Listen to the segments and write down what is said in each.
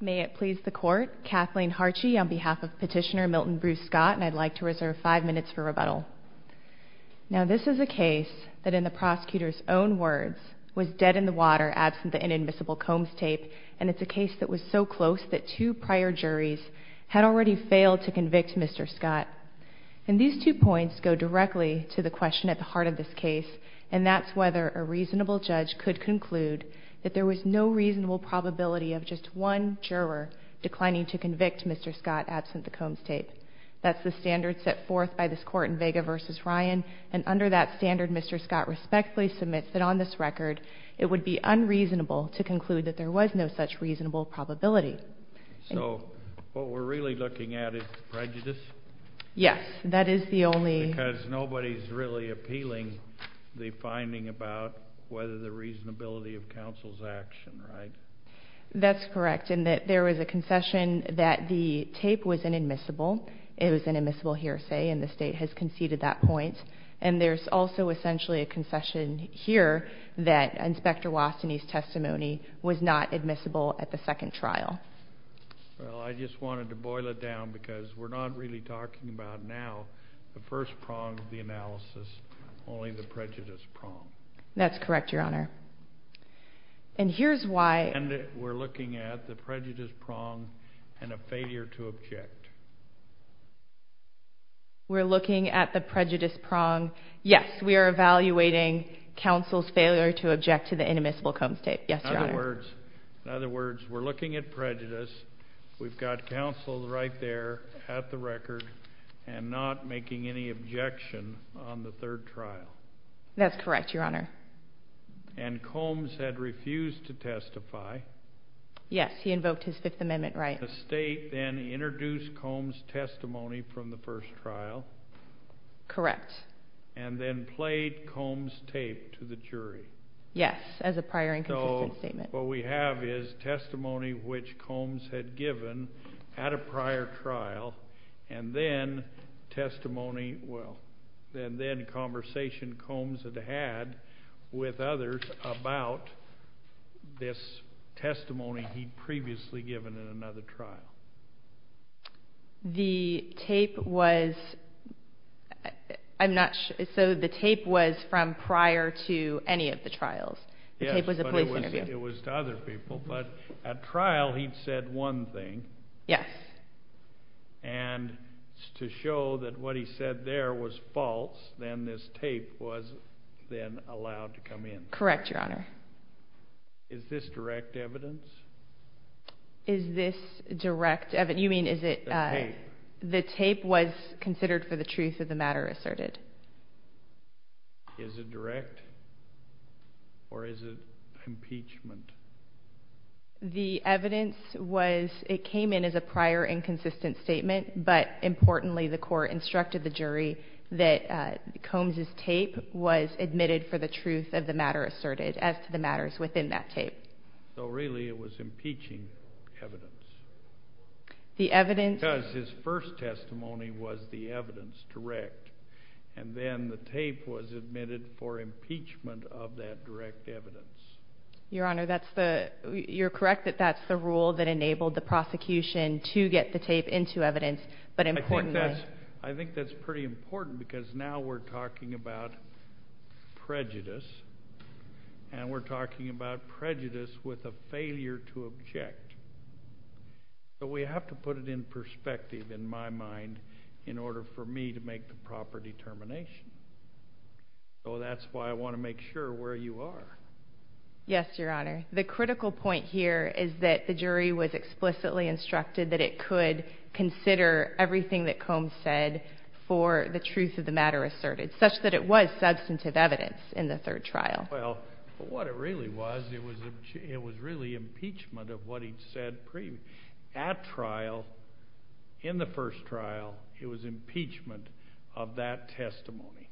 May it please the Court, Kathleen Harchi on behalf of Petitioner Milton Bruce Scott, and I'd like to reserve five minutes for rebuttal. Now this is a case that, in the prosecutor's own words, was dead in the water absent the inadmissible Combs tape, and it's a case that was so close that two prior juries had already failed to convict Mr. Scott. And these two points go directly to the question at the heart of this case, and that's whether a reasonable judge could conclude that there was no reasonable probability of just one juror declining to convict Mr. Scott absent the Combs tape. That's the standard set forth by this Court in Vega v. Ryan, and under that standard Mr. Scott respectfully submits that on this record it would be unreasonable to conclude that there was no such reasonable probability. So what we're really looking at is prejudice? Yes, that is the only... That's correct. And that there was a concession that the tape was inadmissible, it was an admissible hearsay and the state has conceded that point. And there's also essentially a concession here that Inspector Wastany's testimony was not admissible at the second trial. Well, I just wanted to boil it down because we're not really talking about now the first prong of the analysis, only the prejudice prong. That's correct, Your Honor. And here's why... And we're looking at the prejudice prong and a failure to object. We're looking at the prejudice prong, yes, we are evaluating counsel's failure to object to the inadmissible Combs tape, yes, Your Honor. In other words, we're looking at prejudice, we've got counsel right there at the record and not making any objection on the third trial. That's correct, Your Honor. And Combs had refused to testify. Yes, he invoked his Fifth Amendment right. The state then introduced Combs' testimony from the first trial. Correct. And then played Combs' tape to the jury. Yes, as a prior inconsistent statement. What we have is testimony which Combs had given at a prior trial and then testimony... Well, and then conversation Combs had had with others about this testimony he'd previously given in another trial. The tape was... I'm not sure... So the tape was from prior to any of the trials? Yes, but it was... Well, it was to other people, but at trial he'd said one thing and to show that what he said there was false, then this tape was then allowed to come in. Correct, Your Honor. Is this direct evidence? Is this direct evidence? You mean is it... The tape. The tape was considered for the truth of the matter asserted. Is it direct or is it impeachment? The evidence was... It came in as a prior inconsistent statement, but importantly the court instructed the jury that Combs' tape was admitted for the truth of the matter asserted as to the matters within that tape. So really it was impeaching evidence? The evidence... And then the tape was admitted for impeachment of that direct evidence. Your Honor, that's the... You're correct that that's the rule that enabled the prosecution to get the tape into evidence, but importantly... I think that's pretty important because now we're talking about prejudice, and we're talking about prejudice with a failure to object, so we have to put it in perspective in my determination. So that's why I want to make sure where you are. Yes, Your Honor. The critical point here is that the jury was explicitly instructed that it could consider everything that Combs said for the truth of the matter asserted, such that it was substantive evidence in the third trial. Well, but what it really was, it was really impeachment of what he'd said pre... At trial, in the first trial, it was impeachment of that testimony.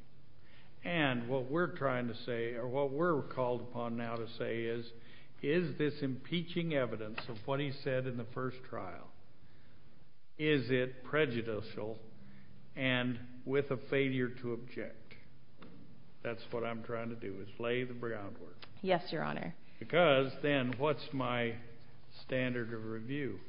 And what we're trying to say, or what we're called upon now to say is, is this impeaching evidence of what he said in the first trial, is it prejudicial and with a failure to object? That's what I'm trying to do, is lay the groundwork. Yes, Your Honor. Because then what's my standard of review?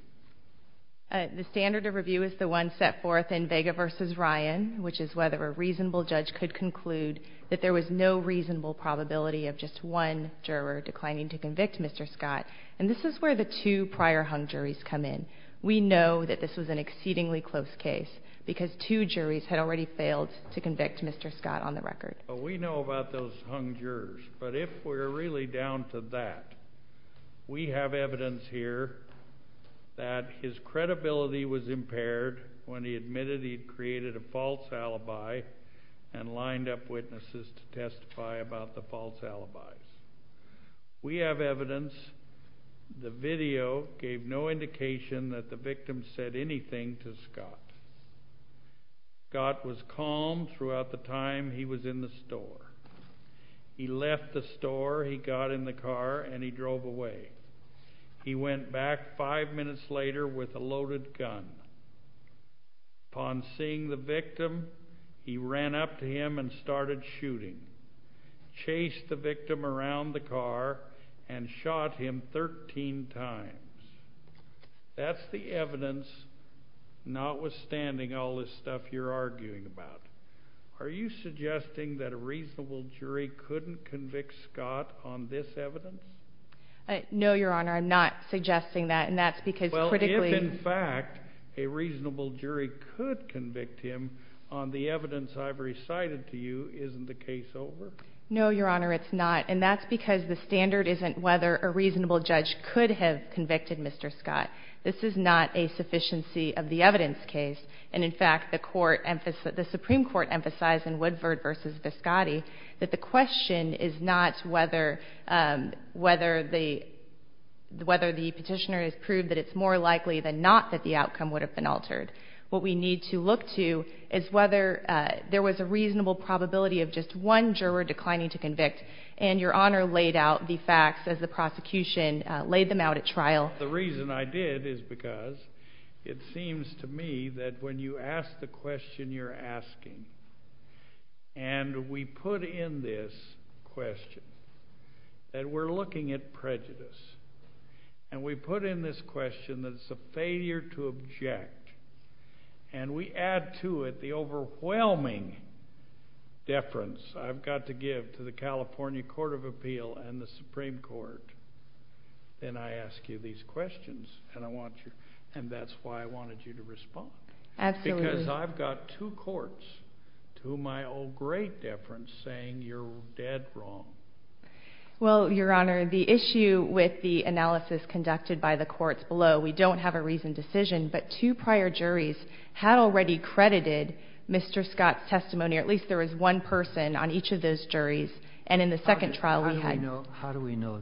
The standard of review is the one set forth in Vega v. Ryan, which is whether a reasonable judge could conclude that there was no reasonable probability of just one juror declining to convict Mr. Scott. And this is where the two prior hung juries come in. We know that this was an exceedingly close case because two juries had already failed to convict Mr. Scott on the record. We know about those hung jurors, but if we're really down to that, we have evidence here that his credibility was impaired when he admitted he'd created a false alibi and lined up witnesses to testify about the false alibis. We have evidence the video gave no indication that the victim said anything to Scott. Scott was calm throughout the time he was in the store. He left the store, he got in the car, and he drove away. He went back five minutes later with a loaded gun. Upon seeing the victim, he ran up to him and started shooting, chased the victim around the car, and shot him 13 times. That's the evidence, notwithstanding all this stuff you're arguing about. Are you suggesting that a reasonable jury couldn't convict Scott on this evidence? No, Your Honor, I'm not suggesting that, and that's because critically... Well, if in fact a reasonable jury could convict him on the evidence I've recited to you, isn't the case over? No, Your Honor, it's not, and that's because the standard isn't whether a reasonable judge could have convicted Mr. Scott. This is not a sufficiency of the evidence case, and in fact the Supreme Court emphasized in Woodford v. Viscotti that the question is not whether the petitioner has proved that it's more likely than not that the outcome would have been altered. What we need to look to is whether there was a reasonable probability of just one juror declining to convict, and Your Honor laid out the facts as the prosecution laid them out at trial. The reason I did is because it seems to me that when you ask the question you're asking, and we put in this question that we're looking at prejudice, and we put in this question that it's a failure to object, and we add to it the overwhelming deference I've got to give to the California Court of Appeal and the Supreme Court, then I ask you these questions, and that's why I wanted you to respond. Absolutely. Because I've got two courts to whom I owe great deference saying you're dead wrong. Well, Your Honor, the issue with the analysis conducted by the courts below, we don't have a reasoned decision, but two prior juries had already credited Mr. Scott's testimony, or at least there was one person on each of those juries, and in the second trial we had How do we know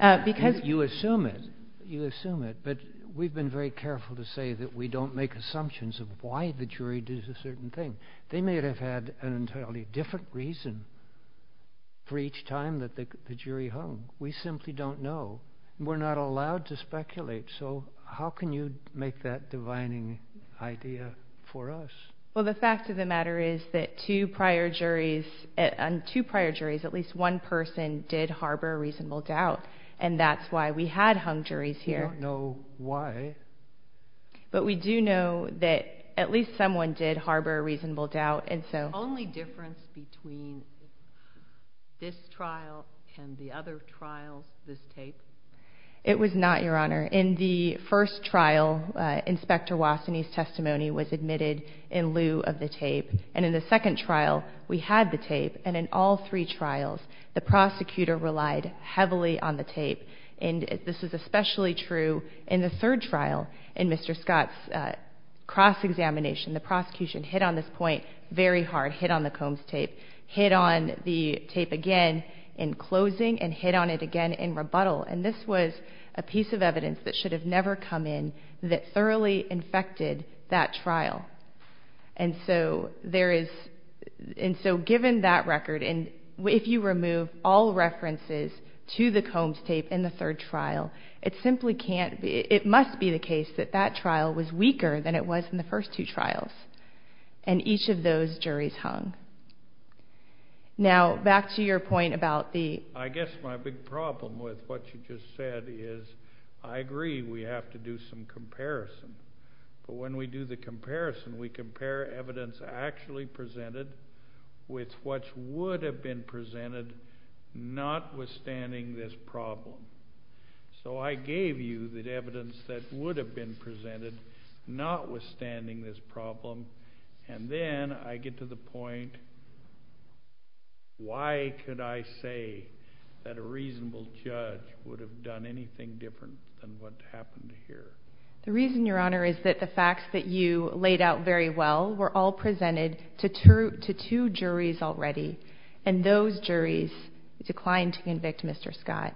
that? You assume it, but we've been very careful to say that we don't make assumptions of why the jury did a certain thing. They may have had an entirely different reason for each time that the jury hung. We simply don't know. We're not allowed to speculate, so how can you make that divining idea for us? Well, the fact of the matter is that on two prior juries, at least one person did harbor a reasonable doubt, and that's why we had hung juries here. We don't know why. But we do know that at least someone did harbor a reasonable doubt, and so The only difference between this trial and the other trials, this tape? It was not, Your Honor. In the first trial, Inspector Wassonee's testimony was admitted in lieu of the tape, and in the second trial, we had the tape, and in all three trials, the prosecutor relied heavily on the tape, and this is especially true in the third trial. In Mr. Scott's cross-examination, the prosecution hit on this point very hard, hit on the Combs tape, hit on the tape again in closing, and hit on it again in rebuttal, and this was a piece of evidence that should have never come in that thoroughly infected that trial. And so there is, and so given that record, and if you remove all references to the Combs tape in the third trial, it simply can't be, it must be the case that that trial was weaker than it was in the first two trials, and each of those juries hung. Now back to your point about the I guess my big problem with what you just said is I agree we have to do some comparison, but when we do the comparison, we compare evidence actually presented with what would have been presented notwithstanding this problem. So I gave you the evidence that would have been presented notwithstanding this problem, and then I get to the point, why could I say that a reasonable judge would have done anything different than what happened here? The reason, Your Honor, is that the facts that you laid out very well were all presented to two juries already, and those juries declined to convict Mr. Scott.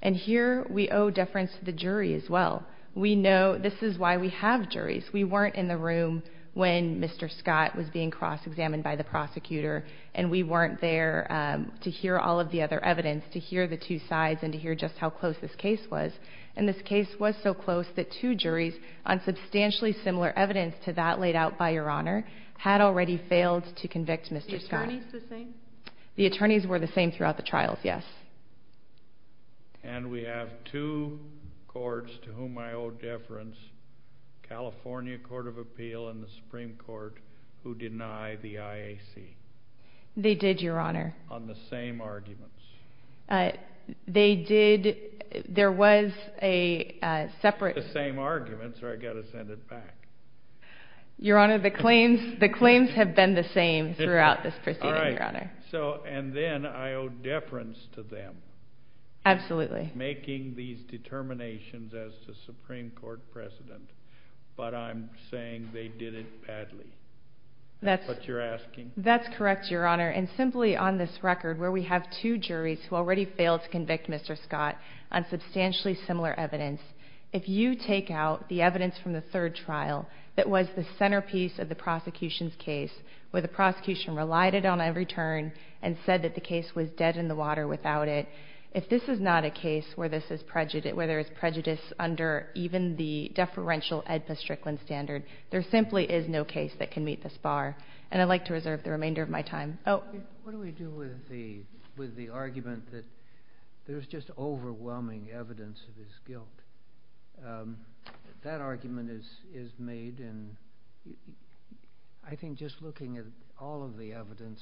And here we owe deference to the jury as well. We know, this is why we have juries. We weren't in the room when Mr. Scott was being cross-examined by the prosecutor, and we weren't there to hear all of the other evidence, to hear the two sides and to hear just how close this case was. And this case was so close that two juries on substantially similar evidence to that already failed to convict Mr. Scott. The attorneys were the same? The attorneys were the same throughout the trials, yes. And we have two courts to whom I owe deference, California Court of Appeal and the Supreme Court, who deny the IAC. They did, Your Honor. On the same arguments. They did. There was a separate... The same arguments, or I've got to send it back. Your Honor, the claims have been the same throughout this proceeding, Your Honor. All right. So, and then I owe deference to them. Absolutely. Making these determinations as the Supreme Court President, but I'm saying they did it badly. That's what you're asking? That's correct, Your Honor. And simply on this record, where we have two juries who already failed to convict Mr. Scott on substantially similar evidence, if you take out the evidence from the third trial that was the centerpiece of the prosecution's case, where the prosecution relied it on every turn and said that the case was dead in the water without it, if this is not a case where there is prejudice under even the deferential AEDPA Strickland standard, there simply is no case that can meet this bar. And I'd like to reserve the remainder of my time. Oh. What do we do with the argument that there's just overwhelming evidence of his guilt? That argument is made, and I think just looking at all of the evidence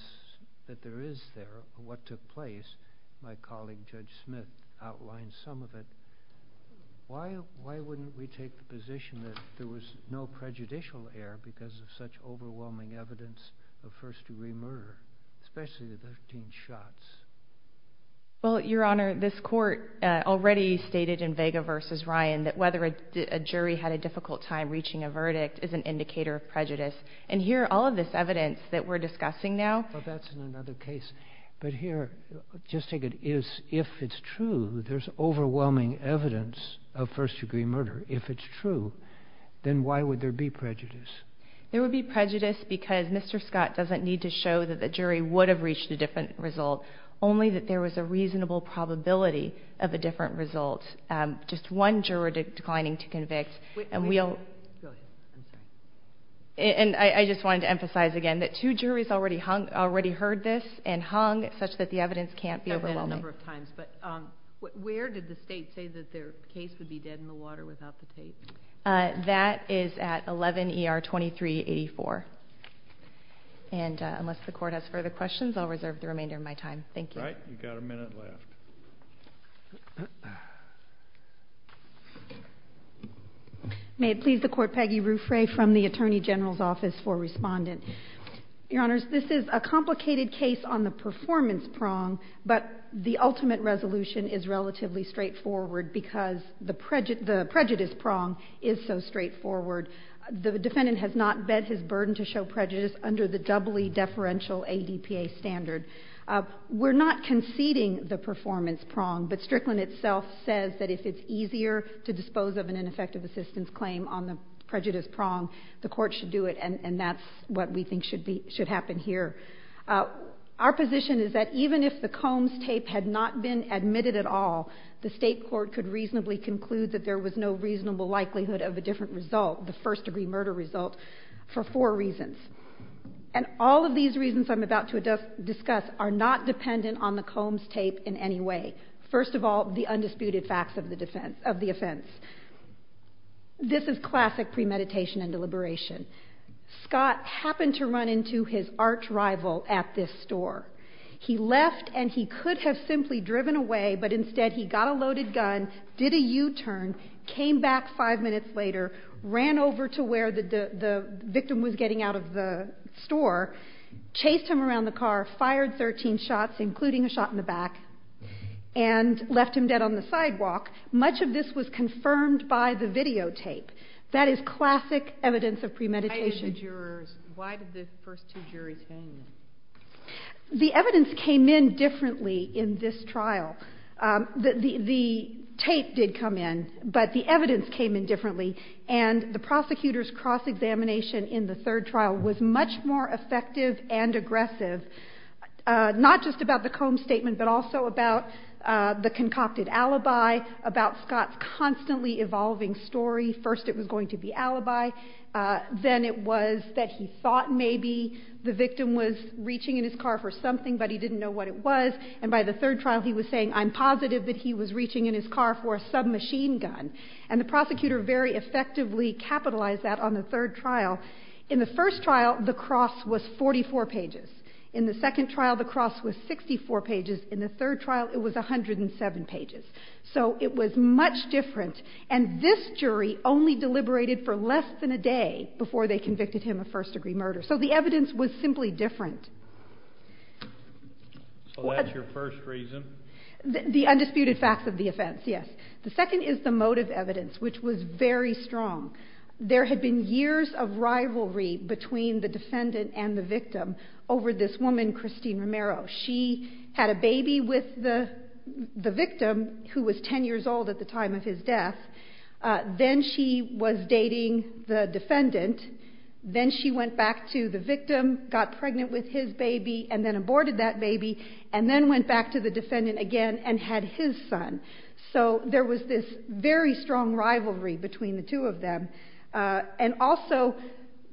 that there is there of what took place, my colleague Judge Smith outlined some of it, why wouldn't we take the position that there was no prejudicial error because of such overwhelming evidence of first-degree murder, especially the 13 shots? Well, Your Honor, this court already stated in Vega v. Ryan that whether a jury had a difficult time reaching a verdict is an indicator of prejudice. And here, all of this evidence that we're discussing now... Well, that's in another case. But here, just take it as if it's true, there's overwhelming evidence of first-degree murder. If it's true, then why would there be prejudice? There would be prejudice because Mr. Scott doesn't need to show that the jury would have reached a different result, only that there was a reasonable probability of a different result. Just one juror declining to convict, and we don't... And I just wanted to emphasize again that two juries already heard this and hung such that the evidence can't be overwhelming. I've heard that a number of times, but where did the State say that their case would be dead in the water without the tape? That is at 11 ER 2384. And unless the Court has further questions, I'll reserve the remainder of my time. Thank you. All right. You've got a minute left. May it please the Court, Peggy Ruffray from the Attorney General's Office for Respondent. Your Honors, this is a complicated case on the performance prong, but the ultimate resolution is relatively straightforward because the prejudice prong is so straightforward. The defendant has not bet his burden to show prejudice under the doubly deferential ADPA standard. We're not conceding the performance prong, but Strickland itself says that if it's easier to dispose of an ineffective assistance claim on the prejudice prong, the Court should do it, and that's what we think should happen here. Our position is that even if the Combs tape had not been admitted at all, the State Court could reasonably conclude that there was no reasonable likelihood of a different result, the first-degree murder result, for four reasons. And all of these reasons I'm about to discuss are not dependent on the Combs tape in any way. First of all, the undisputed facts of the offense. This is classic premeditation and deliberation. Scott happened to run into his arch-rival at this store. He left, and he could have simply driven away, but instead he got a loaded gun, did a U-turn, came back five minutes later, ran over to where the victim was getting out of the store, chased him around the car, fired 13 shots, including a shot in the back, and left him dead on the sidewalk. Much of this was confirmed by the videotape. That is classic evidence of premeditation. Why did the jurors, why did the first two juries hang him? The evidence came in differently in this trial. The tape did come in, but the evidence came in differently, and the prosecutor's cross-examination in the third trial was much more effective and aggressive, not just about the Combs statement but also about the concocted alibi, about Scott's constantly evolving story. First it was going to be alibi, then it was that he thought maybe the victim was reaching in his car for something, but he didn't know what it was, and by the third trial he was saying, I'm positive that he was reaching in his car for a submachine gun, and the prosecutor very effectively capitalized that on the third trial. In the first trial, the cross was 44 pages. In the second trial, the cross was 64 pages. In the third trial, it was 107 pages. So it was much different, and this jury only deliberated for less than a day before they convicted him of first-degree murder. So the evidence was simply different. So that's your first reason? The undisputed facts of the offense, yes. The second is the motive evidence, which was very strong. There had been years of rivalry between the defendant and the victim over this woman, Christine Romero. She had a baby with the victim, who was 10 years old at the time of his death. Then she was dating the defendant. Then she went back to the victim, got pregnant with his baby, and then aborted that baby, and then went back to the defendant again and had his son. So there was this very strong rivalry between the two of them. And also,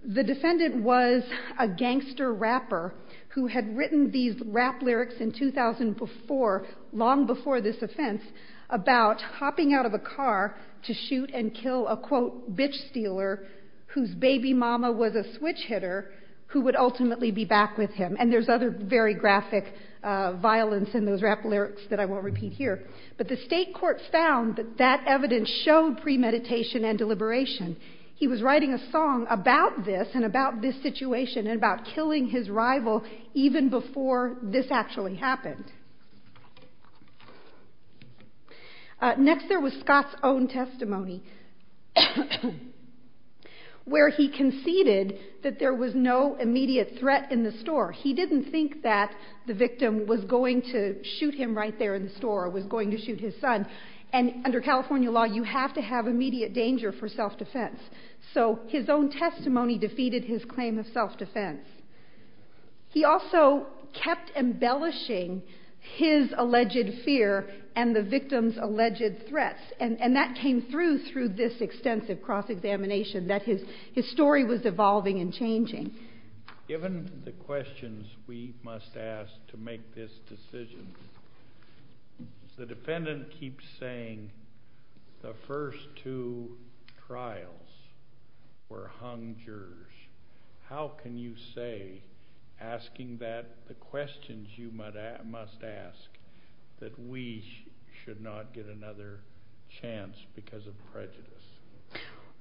the defendant was a gangster rapper who had written these rap lyrics in 2004, long before this offense, about hopping out of a car to shoot and kill a, quote, bitch stealer whose baby mama was a switch hitter who would ultimately be back with him. And there's other very graphic violence in those rap lyrics that I won't repeat here. But the state court found that that evidence showed premeditation and deliberation. He was writing a song about this and about this situation and about killing his rival even before this actually happened. Next, there was Scott's own testimony, where he conceded that there was no immediate threat in the store. He didn't think that the victim was going to shoot him right there in the store or was going to shoot his son. And under California law, you have to have immediate danger for self-defense. So his own testimony defeated his claim of self-defense. He also kept embellishing his alleged fear and the victim's alleged threats. And that came through through this extensive cross-examination that his story was evolving and changing. Given the questions we must ask to make this decision, the defendant keeps saying the first two trials were hung jurors. How can you say, asking the questions you must ask, that we should not get another chance because of prejudice?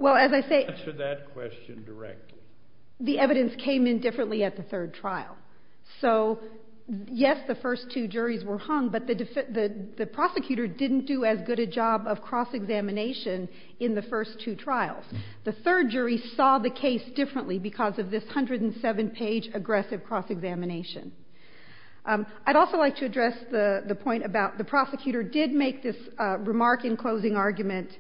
Well, as I say, the evidence came in differently at the third trial. So yes, the first two juries were hung. But the prosecutor didn't do as good a job of cross-examination in the first two trials. The third jury saw the case differently because of this 107-page aggressive cross-examination. I'd also like to address the point about the prosecutor did make this remark in closing argument.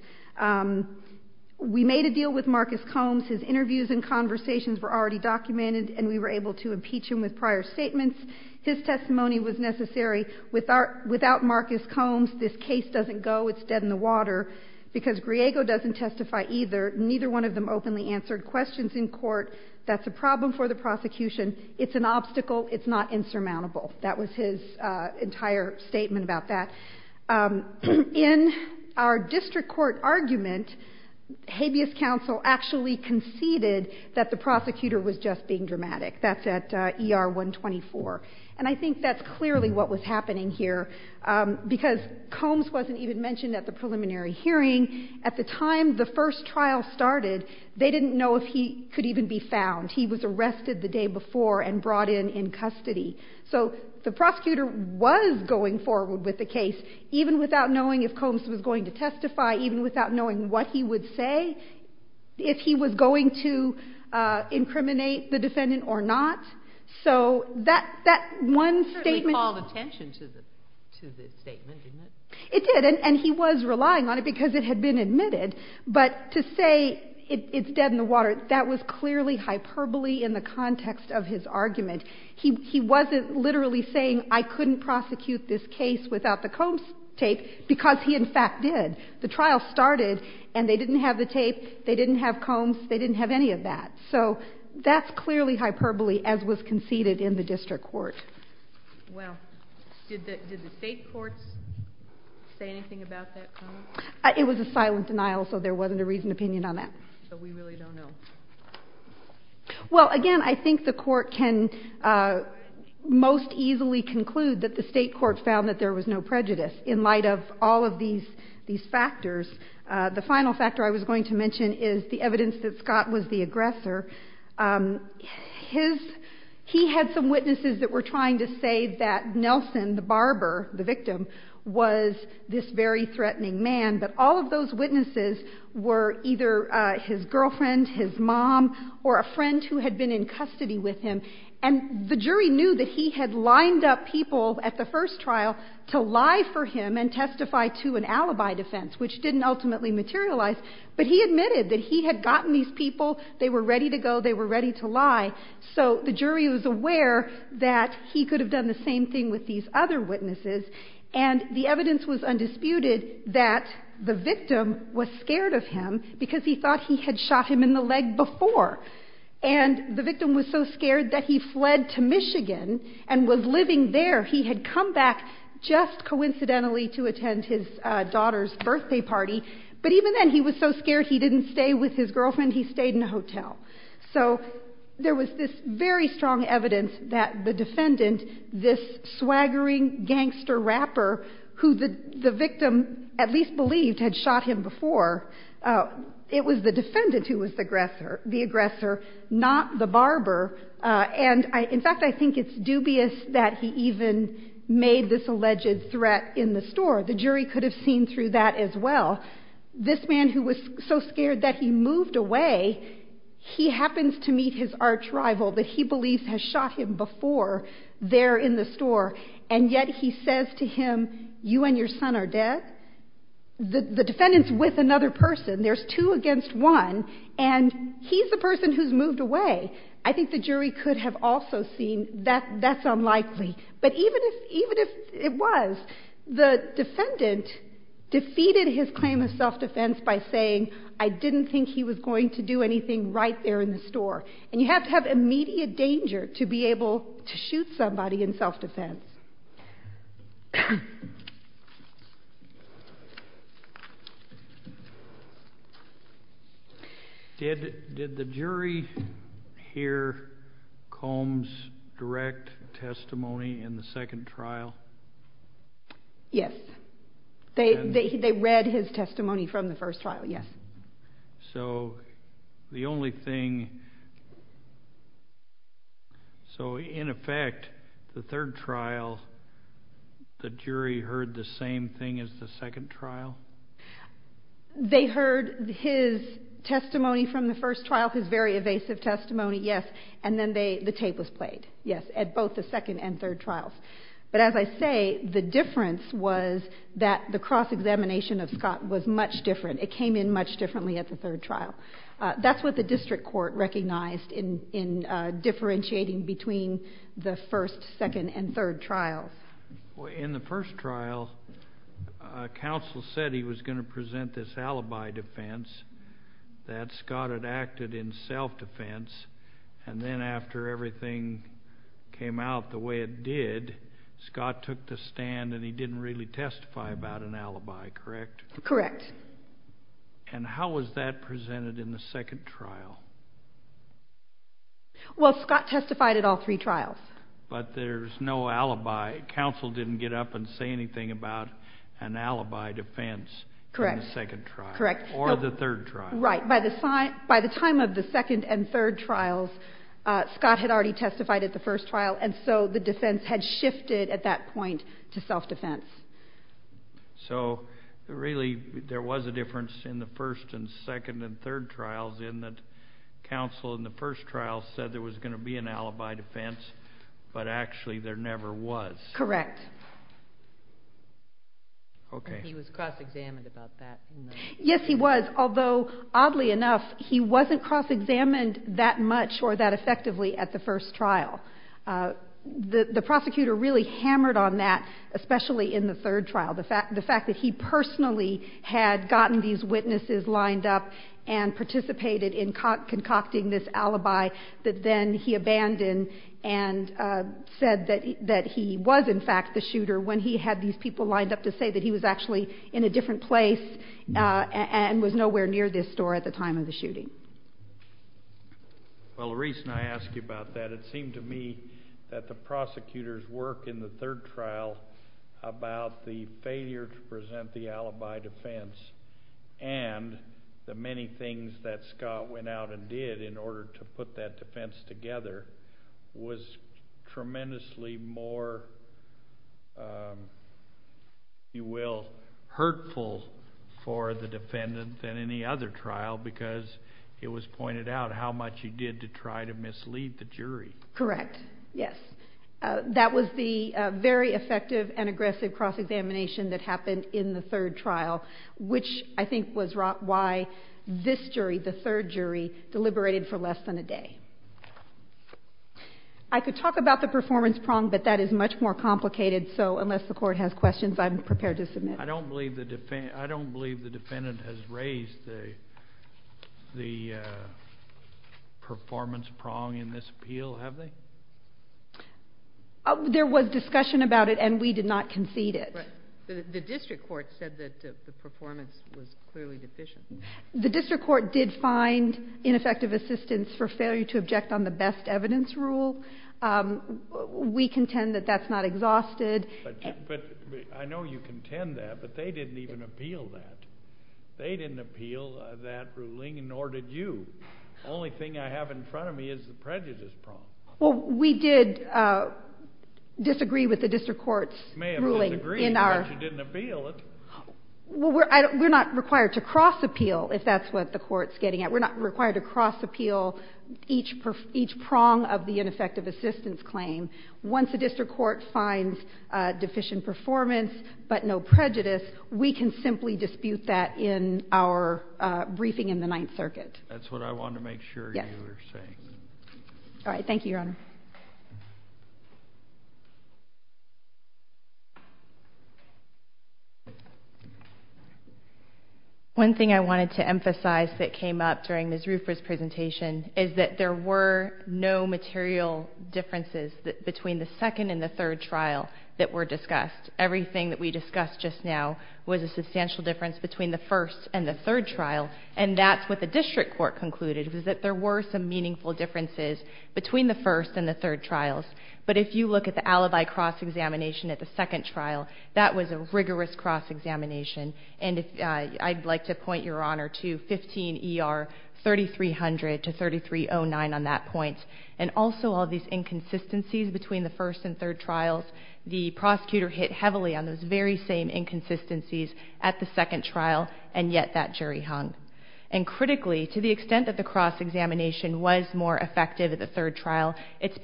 We made a deal with Marcus Combs. His interviews and conversations were already documented, and we were able to impeach him with prior statements. His testimony was necessary. Without Marcus Combs, this case doesn't go. It's dead in the water. Because Griego doesn't testify either, neither one of them openly answered questions in court. That's a problem for the prosecution. It's an obstacle. It's not insurmountable. That was his entire statement about that. In our district court argument, habeas counsel actually conceded that the prosecutor was just being dramatic. That's at ER 124. And I think that's clearly what was happening here, because Combs wasn't even mentioned at the preliminary hearing. At the time the first trial started, they didn't know if he could even be found. He was arrested the day before and brought in in custody. So the prosecutor was going forward with the case, even without knowing if Combs was going to testify, even without knowing what he would say, if he was going to incriminate the defendant or not. So that one statement... It certainly called attention to the statement, didn't it? It did, and he was relying on it because it had been admitted. But to say it's dead in the water, that was clearly hyperbole in the context of his argument. He wasn't literally saying, I couldn't prosecute this case without the Combs tape, because he in fact did. The trial started and they didn't have the tape, they didn't have Combs, they didn't have any of that. So that's clearly hyperbole, as was conceded in the district court. Wow. Did the state courts say anything about that comment? It was a silent denial, so there wasn't a reasoned opinion on that. So we really don't know. Well, again, I think the court can most easily conclude that the state court found that there was no prejudice in light of all of these factors. The final factor I was going to mention is the evidence that Scott was the aggressor. He had some witnesses that were trying to say that Nelson, the barber, the victim, was this very threatening man. But all of those witnesses were either his girlfriend, his mom, or a friend who had been in custody with him. And the jury knew that he had lined up people at the first trial to lie for him and testify to an alibi defense, which didn't ultimately materialize. But he admitted that he had gotten these people, they were ready to go, they were ready to lie. So the jury was aware that he could have done the same thing with these other witnesses. And the evidence was undisputed that the victim was scared of him because he thought he had shot him in the leg before. And the victim was so scared that he fled to Michigan and was living there. He had come back just coincidentally to attend his daughter's birthday party, but even then he was so scared he didn't stay with his girlfriend, he stayed in a hotel. So there was this very strong evidence that the defendant, this swaggering gangster rapper who the victim at least believed had shot him before, it was the defendant who was the aggressor, not the barber. And in fact, I think it's dubious that he even made this alleged threat in the store. The jury could have seen through that as well. This man who was so scared that he moved away, he happens to meet his arch rival that he believes has shot him before there in the store. And yet he says to him, you and your son are dead? The defendant's with another person. There's two against one. And he's the person who's moved away. I think the jury could have also seen that that's unlikely. But even if it was, the defendant defeated his claim of self-defense by saying, I didn't think he was going to do anything right there in the store. And you have to have immediate danger to be able to shoot somebody in self-defense. Did the jury hear Combs' direct testimony in the second trial? Yes. They read his testimony from the first trial, yes. But as I say, the difference was that the cross-examination of Scott was much different. It came in much differently at the third trial. That's what the district court recognized in differentiating between the first, second, and third trials. In the first trial, counsel said he was going to present this alibi defense, that Scott had acted in self-defense. And then after everything came out the way it did, Scott took the stand and he didn't really testify about an alibi, correct? Correct. And how was that presented in the second trial? Well, Scott testified at all three trials. But there's no alibi. Counsel didn't get up and say anything about an alibi defense in the second trial or the third trial. Right. By the time of the second and third trials, Scott had already testified at the first trial, and so the defense had shifted at that point to self-defense. So, really, there was a difference in the first and second and third trials in that counsel in the first trial said there was going to be an alibi defense, but actually there never was. Correct. Okay. And he was cross-examined about that. Yes, he was, although, oddly enough, he wasn't cross-examined that much or that effectively at the first trial. The prosecutor really hammered on that, especially in the third trial, the fact that he personally had gotten these witnesses lined up and participated in concocting this alibi that then he abandoned and said that he was, in fact, the shooter when he had these people lined up to say that he was actually in a different place and was nowhere near this store at the time of the shooting. Well, the reason I ask you about that, it seemed to me that the prosecutor's work in the third trial about the failure to present the alibi defense and the many things that Scott went out and did in order to put that defense together was tremendously more, if it was pointed out, how much he did to try to mislead the jury. Correct. Yes. That was the very effective and aggressive cross-examination that happened in the third trial, which I think was why this jury, the third jury, deliberated for less than a day. I could talk about the performance prong, but that is much more complicated, so unless the Court has questions, I'm prepared to submit. I don't believe the defendant has raised the performance prong in this appeal, have they? There was discussion about it, and we did not concede it. The district court said that the performance was clearly deficient. The district court did find ineffective assistance for failure to object on the best evidence rule. We contend that that's not exhausted. But I know you contend that, but they didn't even appeal that. They didn't appeal that ruling, nor did you. Only thing I have in front of me is the prejudice prong. Well, we did disagree with the district court's ruling in our... You may have disagreed, but you didn't appeal it. Well, we're not required to cross-appeal, if that's what the Court's getting at. We're not required to cross-appeal each prong of the ineffective assistance claim. Once the district court finds deficient performance but no prejudice, we can simply dispute that in our briefing in the Ninth Circuit. That's what I wanted to make sure you were saying. Yes. All right. Thank you, Your Honor. One thing I wanted to emphasize that came up during Ms. Rupert's presentation is that there were no material differences between the second and the third trial that were discussed. Everything that we discussed just now was a substantial difference between the first and the third trial, and that's what the district court concluded, was that there were some meaningful differences between the first and the third trials. But if you look at the alibi cross-examination at the second trial, that was a rigorous cross-examination. And I'd like to point, Your Honor, to 15 E.R. 3300 to 3309 on that point. And also all these inconsistencies between the first and third trials, the prosecutor hit heavily on those very same inconsistencies at the second trial, and yet that jury hung. And critically, to the extent that the cross-examination was more effective at the third trial, it's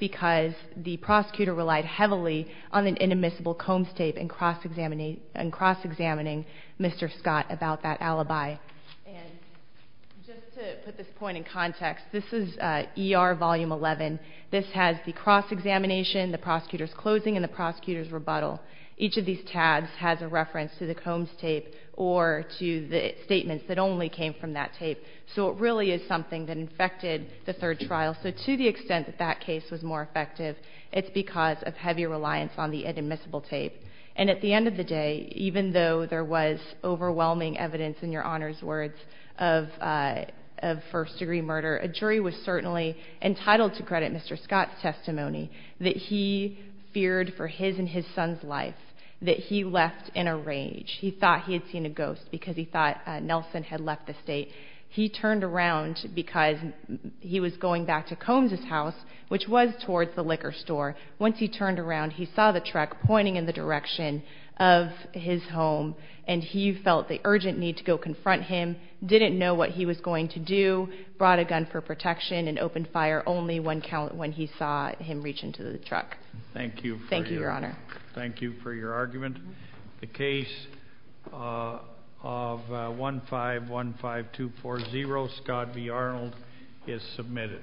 prosecutor relied heavily on an inadmissible Combs tape in cross-examining Mr. Scott about that alibi. And just to put this point in context, this is E.R. Volume 11. This has the cross-examination, the prosecutor's closing, and the prosecutor's rebuttal. Each of these tabs has a reference to the Combs tape or to the statements that only came from that tape. So it really is something that infected the third trial. So to the extent that that case was more effective, it's because of heavy reliance on the inadmissible tape. And at the end of the day, even though there was overwhelming evidence, in Your Honor's words, of first-degree murder, a jury was certainly entitled to credit Mr. Scott's testimony that he feared for his and his son's life, that he left in a rage. He thought he had seen a ghost because he thought Nelson had left the state. He turned around because he was going back to Combs' house, which was towards the liquor store. Once he turned around, he saw the truck pointing in the direction of his home, and he felt the urgent need to go confront him, didn't know what he was going to do, brought a gun for protection, and opened fire only when he saw him reach into the truck. Thank you. Thank you, Your Honor. Thank you for your argument. The case of 1515240, Scott v. Arnold, is submitted.